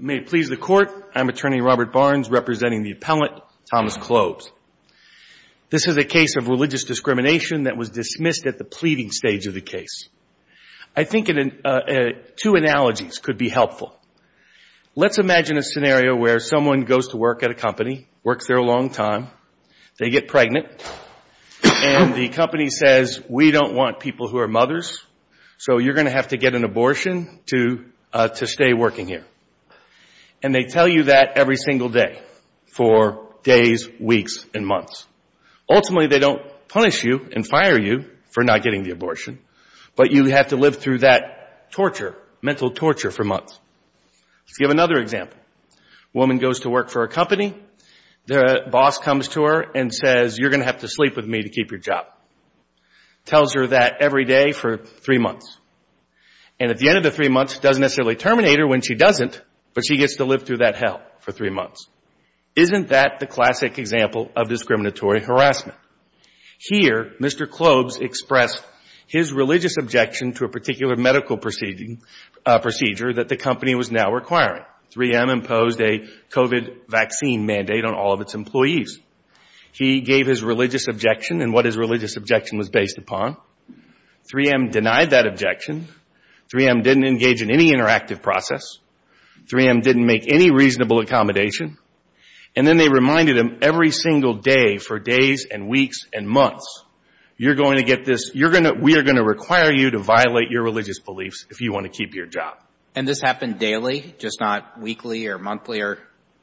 May it please the Court, I'm Attorney Robert Barnes representing the Appellant Thomas Clobes. This is a case of religious discrimination that was dismissed at the pleading stage of the case. I think two analogies could be helpful. Let's imagine a scenario where someone goes to work at a company, works there a long time, they get pregnant, and the company says, we don't want people who are mothers, so you're going to have to get an abortion to stay working here. And they tell you that every single day for days, weeks, and months. Ultimately they don't punish you and fire you for not getting the abortion, but you have to live through that torture, mental torture, for months. Let's give another example. A woman goes to work for a company, the boss comes to her and says, you're going to have to sleep with me to keep your job. Tells her that every day for three months. And at the end of the three months, doesn't necessarily terminate her when she doesn't, but she gets to live through that hell for three months. Isn't that the classic example of discriminatory harassment? Here, Mr. Clobes expressed his religious objection to a particular medical procedure that the company was now requiring. 3M imposed a COVID vaccine mandate on all of its employees. He gave his religious objection and what his religious objection was based upon. 3M denied that objection. 3M didn't engage in any interactive process. 3M didn't make any reasonable accommodation. And then they reminded him every single day for days and weeks and months, you're going to get this, we are going to require you to violate your religious beliefs if you want to keep your job. And this happened daily, just not weekly or monthly or?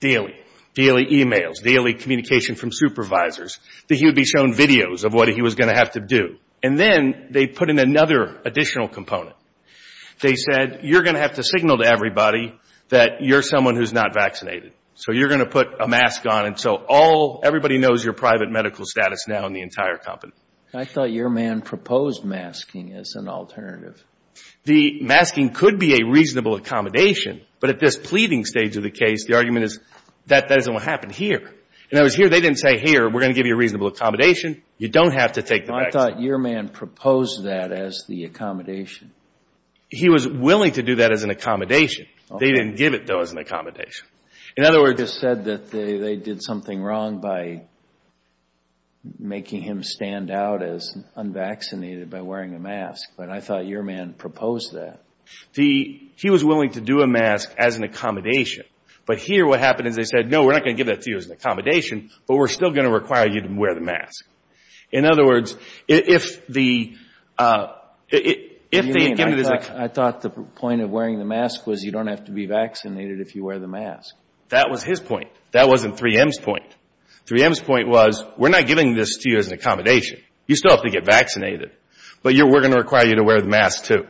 Daily. Daily emails, daily communication from supervisors, that he would be shown videos of what he was going to have to do. And then they put in another additional component. They said, you're going to have to signal to everybody that you're someone who's not vaccinated. So you're going to put a mask on until all, everybody knows your private medical status now in the entire company. I thought your man proposed masking as an alternative. The masking could be a reasonable accommodation, but at this pleading stage of the case, the argument is that that isn't what happened here. And I was here, they didn't say here, we're going to give you a reasonable accommodation. You don't have to take the vaccine. I thought your man proposed that as the accommodation. He was willing to do that as an accommodation. They didn't give it, though, as an accommodation. In other words, they said that they did something wrong by making him stand out as unvaccinated by wearing a mask. But I thought your man proposed that. He was willing to do a mask as an accommodation. But here what happened is they said, no, we're not going to give that to you as an accommodation, but we're still going to require you to wear the mask. In other words, if the, if they've given it as a... I thought the point of wearing the mask was you don't have to be vaccinated if you wear the mask. That was his point. That wasn't 3M's point. 3M's point was, we're not giving this to you as an accommodation. You still have to get vaccinated. But we're going to require you to wear the mask, too.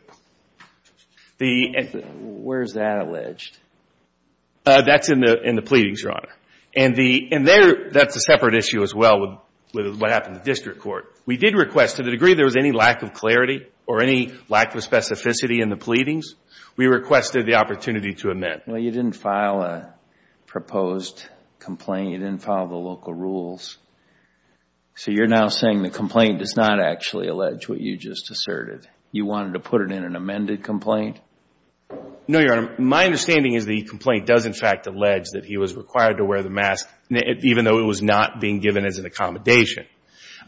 Where is that alleged? That's in the pleadings, Your Honor. And there, that's a separate issue as well with what happened in the district court. We did request, to the degree there was any lack of clarity or any lack of specificity in the pleadings, we requested the opportunity to amend. Well, you didn't file a proposed complaint. You didn't follow the local rules. So you're now saying the complaint does not actually allege what you just asserted. You wanted to put it in an amended complaint? No, Your Honor. My understanding is the complaint does, in fact, allege that he was required to wear the mask, even though it was not being given as an accommodation.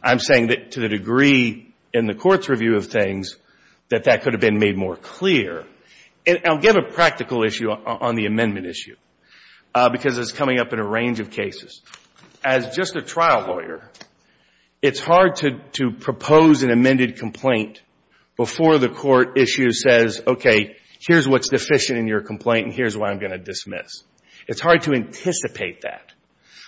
I'm saying that to the degree in the court's review of things that that could have been made more clear. And I'll give a practical issue on the amendment issue, because it's coming up in a range of It's hard to propose an amended complaint before the court issue says, okay, here's what's deficient in your complaint, and here's what I'm going to dismiss. It's hard to anticipate that.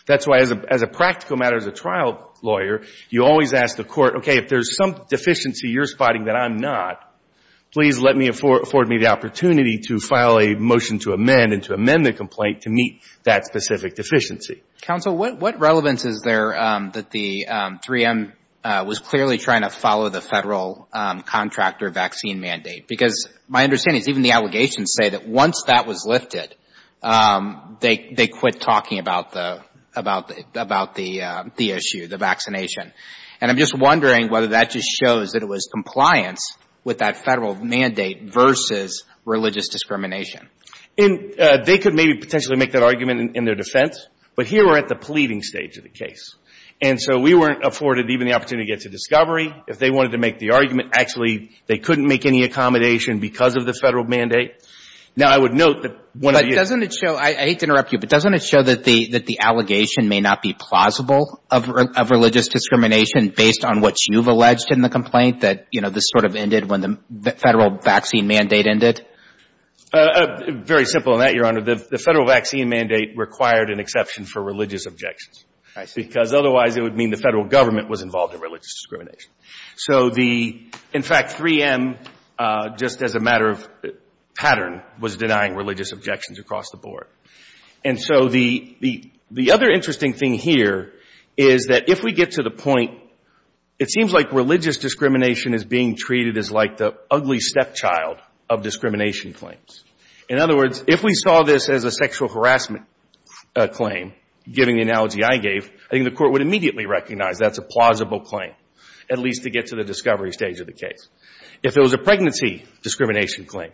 That's why, as a practical matter, as a trial lawyer, you always ask the court, okay, if there's some deficiency you're spotting that I'm not, please let me afford me the opportunity to file a motion to amend and to amend the complaint to meet that specific deficiency. Counsel, what relevance is there that the 3M was clearly trying to follow the Federal contractor vaccine mandate? Because my understanding is even the allegations say that once that was lifted, they quit talking about the issue, the vaccination. And I'm just wondering whether that just shows that it was compliance with that Federal mandate versus religious discrimination. And they could maybe potentially make that argument in their defense. But here we're at the pleading stage of the case. And so we weren't afforded even the opportunity to get to discovery. If they wanted to make the argument, actually, they couldn't make any accommodation because of the Federal mandate. Now, I would note that one of the But doesn't it show, I hate to interrupt you, but doesn't it show that the allegation may not be plausible of religious discrimination based on what you've alleged in the complaint, that, you know, this sort of ended when the Federal vaccine mandate ended? Very simple on that, Your Honor. The Federal vaccine mandate required an exception for religious objections. I see. Because otherwise it would mean the Federal government was involved in religious discrimination. So the, in fact, 3M, just as a matter of pattern, was denying religious objections across the board. And so the other interesting thing here is that if we get to the point, it seems like religious discrimination is being treated as like the ugly stepchild of discrimination claims. In other words, if we saw this as a sexual harassment claim, giving the analogy I gave, I think the Court would immediately recognize that's a plausible claim, at least to get to the discovery stage of the case. If it was a pregnancy discrimination claim,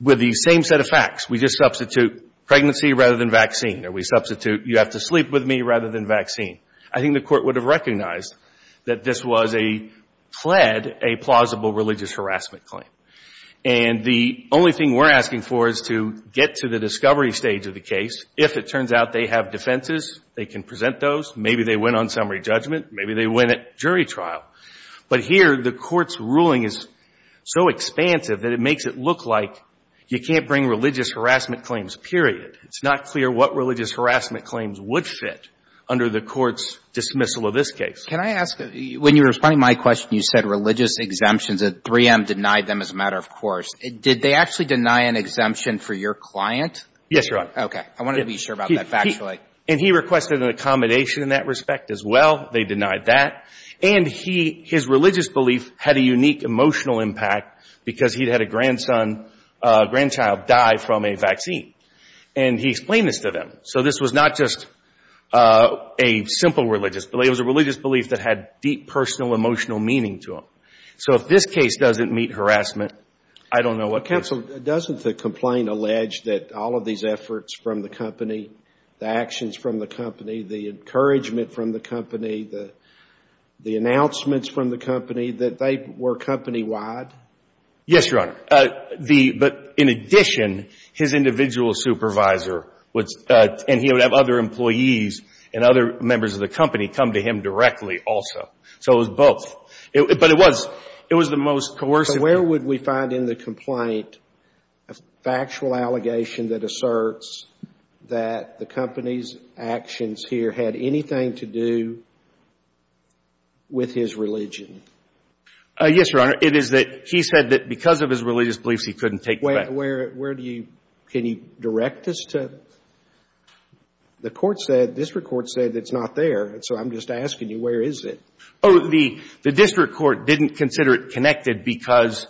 with the same set of facts, we just substitute pregnancy rather than vaccine, or we substitute you have to sleep with me rather than vaccine, I think the Court would have recognized that this was a, fled a plausible religious harassment claim. And the only thing we're asking for is to get to the discovery stage of the case. If it turns out they have defenses, they can present those. Maybe they win on summary judgment. Maybe they win at jury trial. But here the Court's ruling is so expansive that it makes it look like you can't bring religious harassment claims, period. It's not clear what religious harassment claims would fit under the Court's dismissal of this case. Can I ask, when you were responding to my question, you said religious exemptions, that 3M denied them as a matter of course. Did they actually deny an exemption for your client? Yes, Your Honor. Okay. I wanted to be sure about that factually. And he requested an accommodation in that respect as well. They denied that. And he, his religious belief had a unique emotional impact because he had a grandson, grandchild die from a vaccine. And he explained this to them. So this was not just a simple religious belief. It was a religious belief that had deep personal emotional meaning to him. So if this case doesn't meet harassment, I don't know what can. Counsel, doesn't the complaint allege that all of these efforts from the company, the actions from the company, the encouragement from the company, the announcements from the company, that they were company-wide? Yes, Your Honor. The, but in addition, his individual supervisor was, and he would have other employees and other members of the company come to him directly also. So it was both. But it was, it was the most coercive. Where would we find in the complaint a factual allegation that asserts that the company's actions here had anything to do with his religion? Yes, Your Honor. It is that he said that because of his religious beliefs, he couldn't take the vaccine. Where, where do you, can you direct this to? The court said, district court said that it's not there. So I'm just asking you, where is it? Oh, the, the district court didn't consider it connected because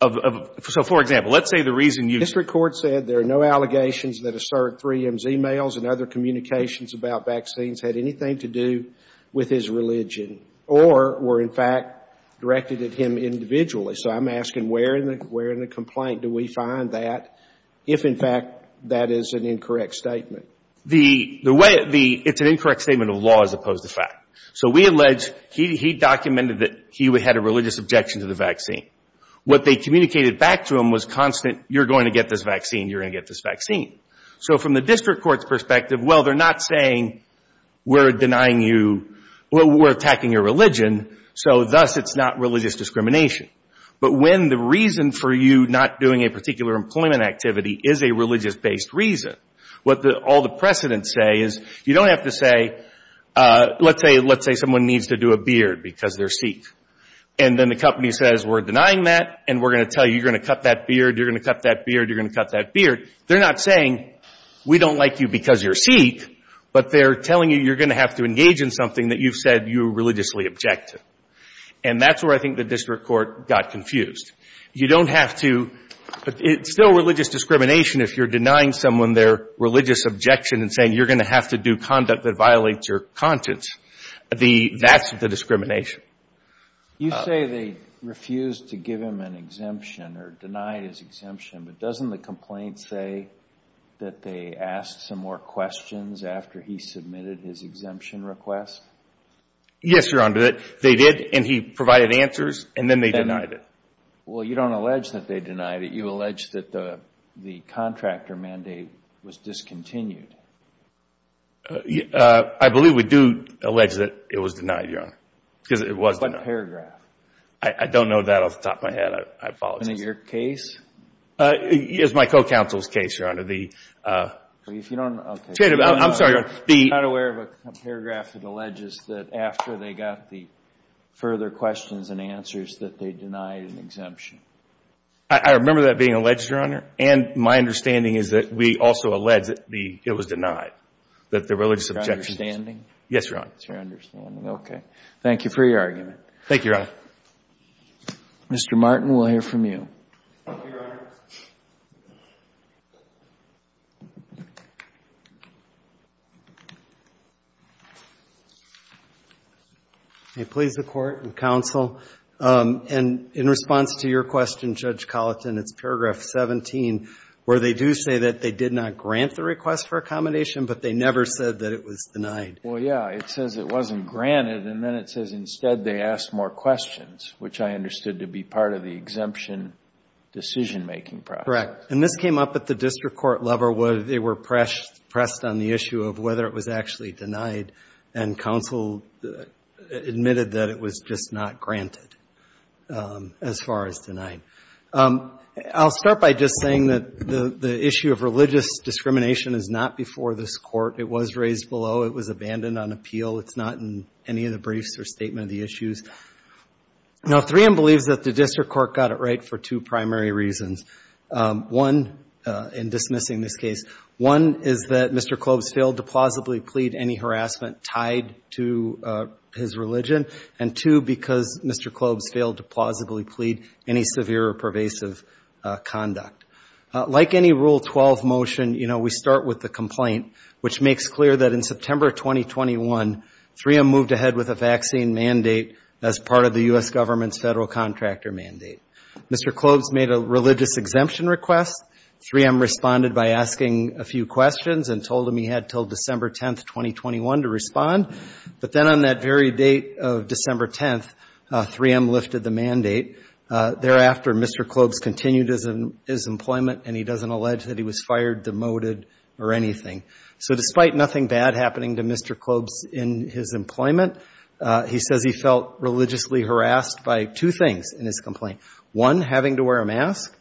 of, so for example, let's say the reason you. District court said there are no allegations that assert 3M's emails and other communications about vaccines had anything to do with his religion or were in fact directed at him individually. So I'm asking where in the, where in the complaint do we find that if in fact that is an incorrect statement? The, the way the, it's an incorrect statement of law as opposed to fact. So we allege he, he documented that he had a religious objection to the vaccine. What they communicated back to him was constant, you're going to get this vaccine, you're going to get this vaccine. So from the district court's perspective, well, they're not saying we're denying you, we're attacking your religion, so thus it's not religious discrimination. But when the reason for you not doing a particular employment activity is a religious based reason, what the, all the precedents say is you don't have to say, let's say, let's say someone needs to do a beard because they're Sikh. And then the company says we're denying that and we're going to tell you, you're going to cut that beard, you're going to cut that beard, you're going to cut that beard. They're not saying we don't like you because you're Sikh, but they're telling you you're going to have to engage in something that you've said you religiously objected. And that's where I think the district court got confused. You don't have to, it's still religious discrimination if you're denying someone their religious objection and saying you're going to have to do conduct that violates your conscience. The, that's the discrimination. You say they refused to give him an exemption or denied his exemption, but doesn't the complaint say that they asked some more questions after he submitted his exemption request? Yes, Your Honor, they did and he provided answers and then they denied it. Well, you don't allege that they denied it. You allege that the contractor mandate was discontinued. I believe we do allege that it was denied, Your Honor, because it was denied. What paragraph? I don't know that off the top of my head. I apologize. In your case? It's my co-counsel's case, Your Honor. If you don't know, okay. I'm sorry, Your Honor. I'm not aware of a paragraph that alleges that after they got the further questions and answers that they denied an exemption. I remember that being alleged, Your Honor, and my understanding is that we also allege that the, it was denied, that the religious objection. That's your understanding? Yes, Your Honor. That's your understanding. Okay. Thank you for your argument. Thank you, Your Honor. Mr. Martin, we'll hear from you. Thank you, Your Honor. May it please the Court and counsel, and in response to your question, Judge Colleton, it's paragraph 17, where they do say that they did not grant the request for accommodation, but they never said that it was denied. Well, yeah, it says it wasn't granted, and then it says instead they asked more questions, which I understood to be part of the exemption decision-making process. Correct. And this came up at the district court level where they were pressed on the issue of whether it was actually denied, and counsel admitted that it was just not granted as far as denied. I'll start by just saying that the issue of religious discrimination is not before this court. It was raised below. It was abandoned on appeal. It's not in any of the briefs or statement of the issues. Now, 3M believes that the district court got it right for two primary reasons. One, in dismissing this case, one is that Mr. Klobes failed to plausibly plead any harassment tied to his religion, and two, because Mr. Klobes failed to plausibly plead any severe or pervasive conduct. Like any Rule 12 motion, you know, we start with the complaint, which makes clear that in September of 2021, 3M moved ahead with a vaccine mandate as part of the U.S. government's federal contractor mandate. Mr. Klobes made a religious exemption request. 3M responded by asking a few questions and told him he had until December 10th, 2021, to respond. But then on that very date of December 10th, 3M lifted the mandate. Thereafter, Mr. Klobes continued his employment, and he doesn't allege that he was fired, demoted, or anything. So despite nothing bad happening to Mr. Klobes in his employment, he says he felt religiously harassed by two things in his complaint. One, having to wear a mask,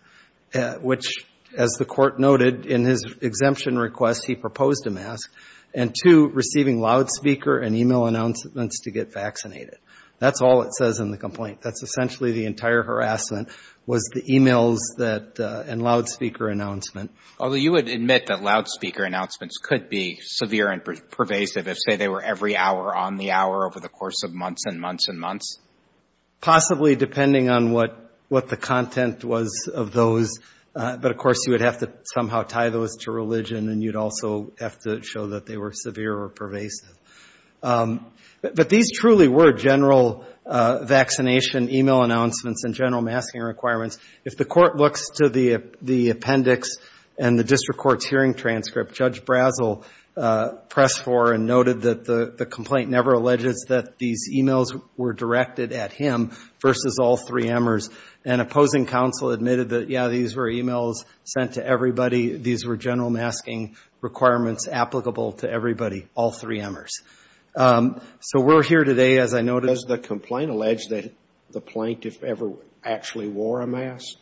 which, as the court noted in his exemption request, he proposed a mask, and two, receiving loudspeaker and e-mail announcements to get vaccinated. That's all it says in the complaint. That's essentially the entire harassment was the e-mails and loudspeaker announcement. Although you would admit that loudspeaker announcements could be severe and pervasive if, say, they were every hour on the hour over the course of months and months and months? Possibly, depending on what the content was of those. But, of course, you would have to somehow tie those to religion, and you'd also have to show that they were severe or pervasive. But these truly were general vaccination e-mail announcements and general masking requirements. If the court looks to the appendix and the district court's hearing transcript, Judge Brazel pressed for and noted that the complaint never alleges that these e-mails were directed at him versus all three emers. An opposing counsel admitted that, yeah, these were e-mails sent to everybody. These were general masking requirements applicable to everybody, all three emers. So we're here today, as I noted. Does the complaint allege that the plaintiff ever actually wore a mask?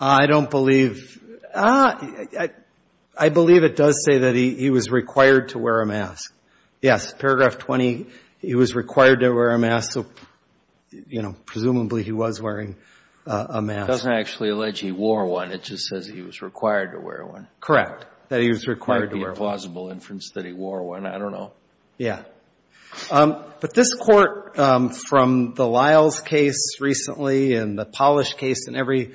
I don't believe. I believe it does say that he was required to wear a mask. Yes. Paragraph 20, he was required to wear a mask. So, you know, presumably he was wearing a mask. It doesn't actually allege he wore one. It just says he was required to wear one. Correct. That he was required to wear one. Might be a plausible inference that he wore one. I don't know. Yeah. But this court. From the Lyles case recently and the Polish case and every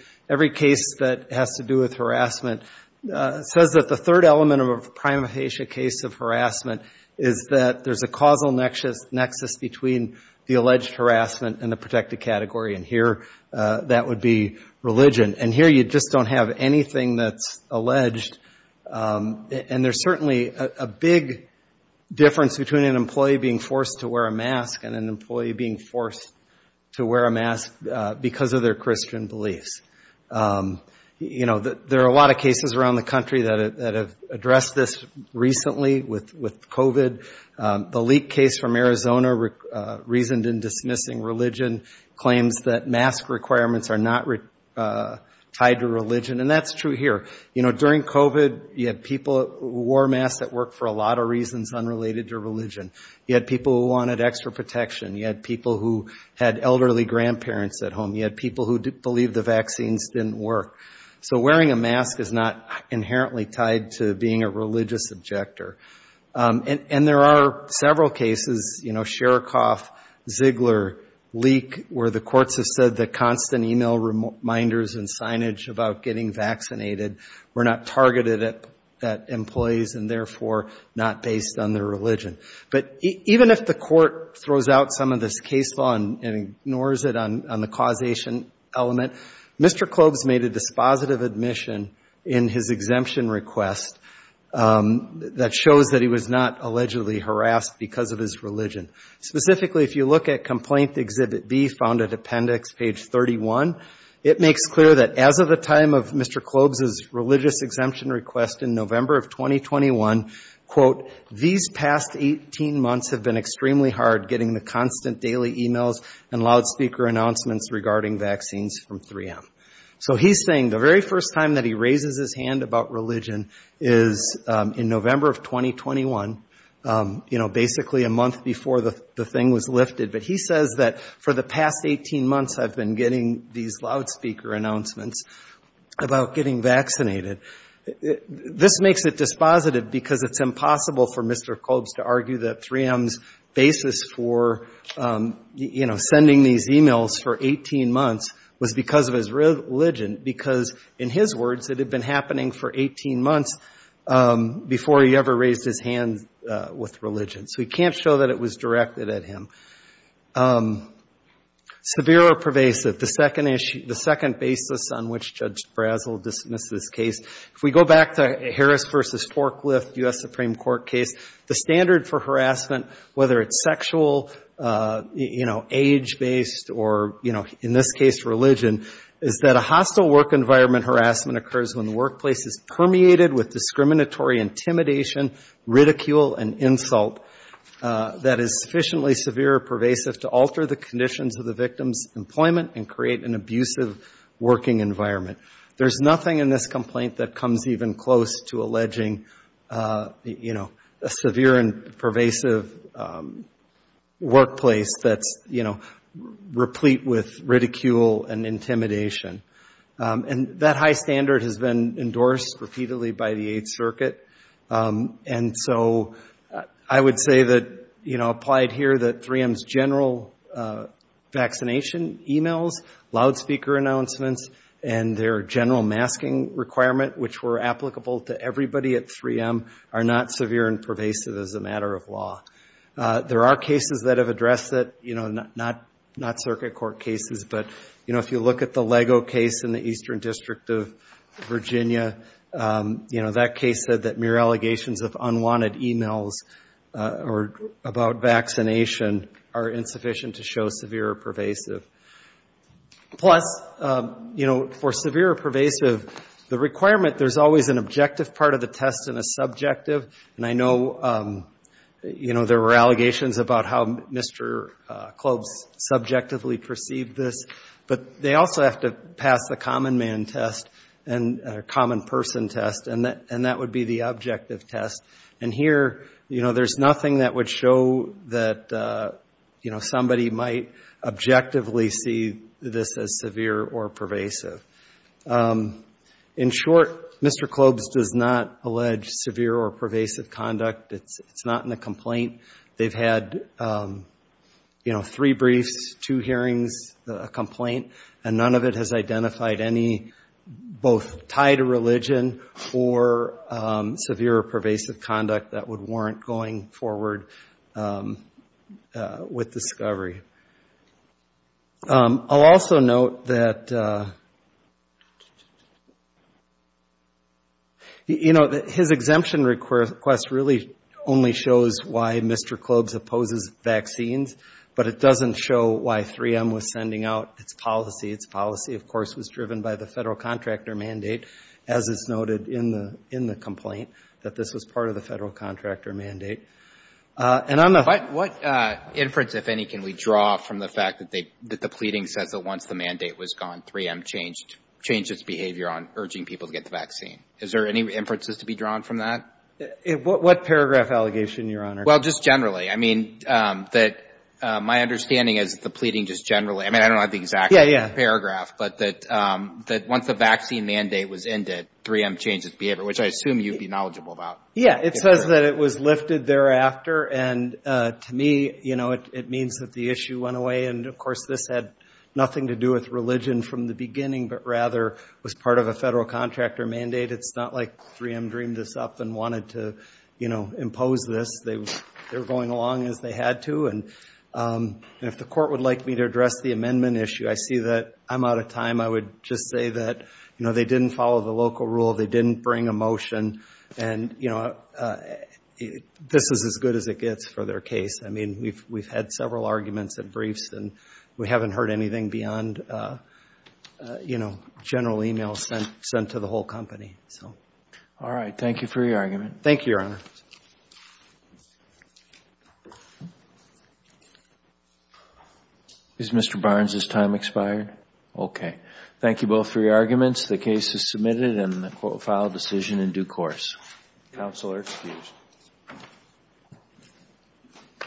case that has to do with harassment, says that the third element of a prima facie case of harassment is that there's a causal nexus between the alleged harassment and the protected category. And here that would be religion. And here you just don't have anything that's alleged. And there's certainly a big difference between an employee being forced to wear a mask and an employee being forced to wear a mask because of their Christian beliefs. You know, there are a lot of cases around the country that have addressed this recently with COVID. The leak case from Arizona, reasoned in dismissing religion, claims that mask requirements are not tied to religion. And that's true here. You know, during COVID, you had people who wore masks at work for a lot of reasons unrelated to religion. You had people who wanted extra protection. You had people who had elderly grandparents at home. You had people who believed the vaccines didn't work. So wearing a mask is not inherently tied to being a religious objector. And there are several cases, you know, Shcherakov, Ziegler, Leak, where the courts have said that constant email reminders and signage about getting vaccinated were not targeted at employees and therefore not based on their religion. But even if the court throws out some of this case law and ignores it on the causation element, Mr. Klobz made a dispositive admission in his exemption request that shows that he was not allegedly harassed because of his religion. Specifically, if you look at Complaint Exhibit B, found at Appendix page 31, it makes clear that as of the time of Mr. Klobz's religious exemption request in November of 2021, quote, these past 18 months have been extremely hard getting the constant daily emails and loud speaker announcements regarding vaccines from 3M. So he's saying the very first time that he raises his hand about religion is in November of 2021, you know, basically a month before the thing was lifted. But he says that for the past 18 months, I've been getting these loudspeaker announcements about getting vaccinated. This makes it dispositive because it's impossible for Mr. Klobz to argue that 3M's basis for, you know, sending these emails for 18 months was because of his religion, because in his words, it had been happening for 18 months before he ever raised his hand with religion. So he can't show that it was directed at him. Severe or pervasive, the second issue, the second basis on which Judge Brazel dismisses this case, if we go back to Harris versus Forklift U.S. Supreme Court case, the standard for harassment, whether it's sexual, you know, age based or, you know, in this case, religion, is that a hostile work environment harassment occurs when the workplace is permeated with discriminatory intimidation, ridicule and pervasive to alter the conditions of the victim's employment and create an abusive working environment. There's nothing in this complaint that comes even close to alleging, you know, a severe and pervasive workplace that's, you know, replete with ridicule and intimidation. And that high standard has been endorsed repeatedly by the Eighth Circuit. And so I would say that, you know, applied here that 3M's general vaccination emails, loudspeaker announcements and their general masking requirement, which were applicable to everybody at 3M, are not severe and pervasive as a matter of law. There are cases that have addressed that, you know, not Circuit Court cases. But, you know, if you look at the Lego case in the Eastern District of Virginia, you know, that case said that mere allegations of unwanted emails or about vaccination are insufficient to show severe or pervasive. Plus, you know, for severe or pervasive, the requirement, there's always an objective part of the test and a subjective. And I know, you know, there were allegations about how Mr. Klob's subjectively perceived this, but they also have to pass the common man test and a and that would be the objective test. And here, you know, there's nothing that would show that, you know, somebody might objectively see this as severe or pervasive. In short, Mr. Klob's does not allege severe or pervasive conduct. It's not in the complaint. They've had, you know, three briefs, two hearings, a complaint, and none of it has identified any, both tied to religion or severe or pervasive conduct that would warrant going forward with discovery. I'll also note that, you know, his exemption request really only shows why Mr. Klob's opposes vaccines, but it doesn't show why 3M was sending out its policy. Its policy, of course, was driven by the federal contractor mandate, as is noted in the in the complaint, that this was part of the federal contractor mandate. And I'm not what inference, if any, can we draw from the fact that they that the pleading says that once the mandate was gone, 3M changed, changed its behavior on urging people to get the vaccine. Is there any inferences to be drawn from that? What paragraph allegation, Your Honor? Well, just generally, I mean, that my understanding is that the pleading just generally, I don't have the exact paragraph, but that that once the vaccine mandate was ended, 3M changed its behavior, which I assume you'd be knowledgeable about. Yeah, it says that it was lifted thereafter. And to me, you know, it means that the issue went away. And of course, this had nothing to do with religion from the beginning, but rather was part of a federal contractor mandate. It's not like 3M dreamed this up and wanted to, you know, impose this. They were going along as they had to. And if the court would like me to address the amendment issue, I see that I'm out of time. I would just say that, you know, they didn't follow the local rule. They didn't bring a motion. And, you know, this is as good as it gets for their case. I mean, we've we've had several arguments and briefs and we haven't heard anything beyond, you know, general email sent to the whole company. So. All right. Thank you for your argument. Thank you, Your Honor. Is Mr. Barnes's time expired? OK. Thank you both for your arguments. The case is submitted and the court will file a decision in due course. Counsel are excused.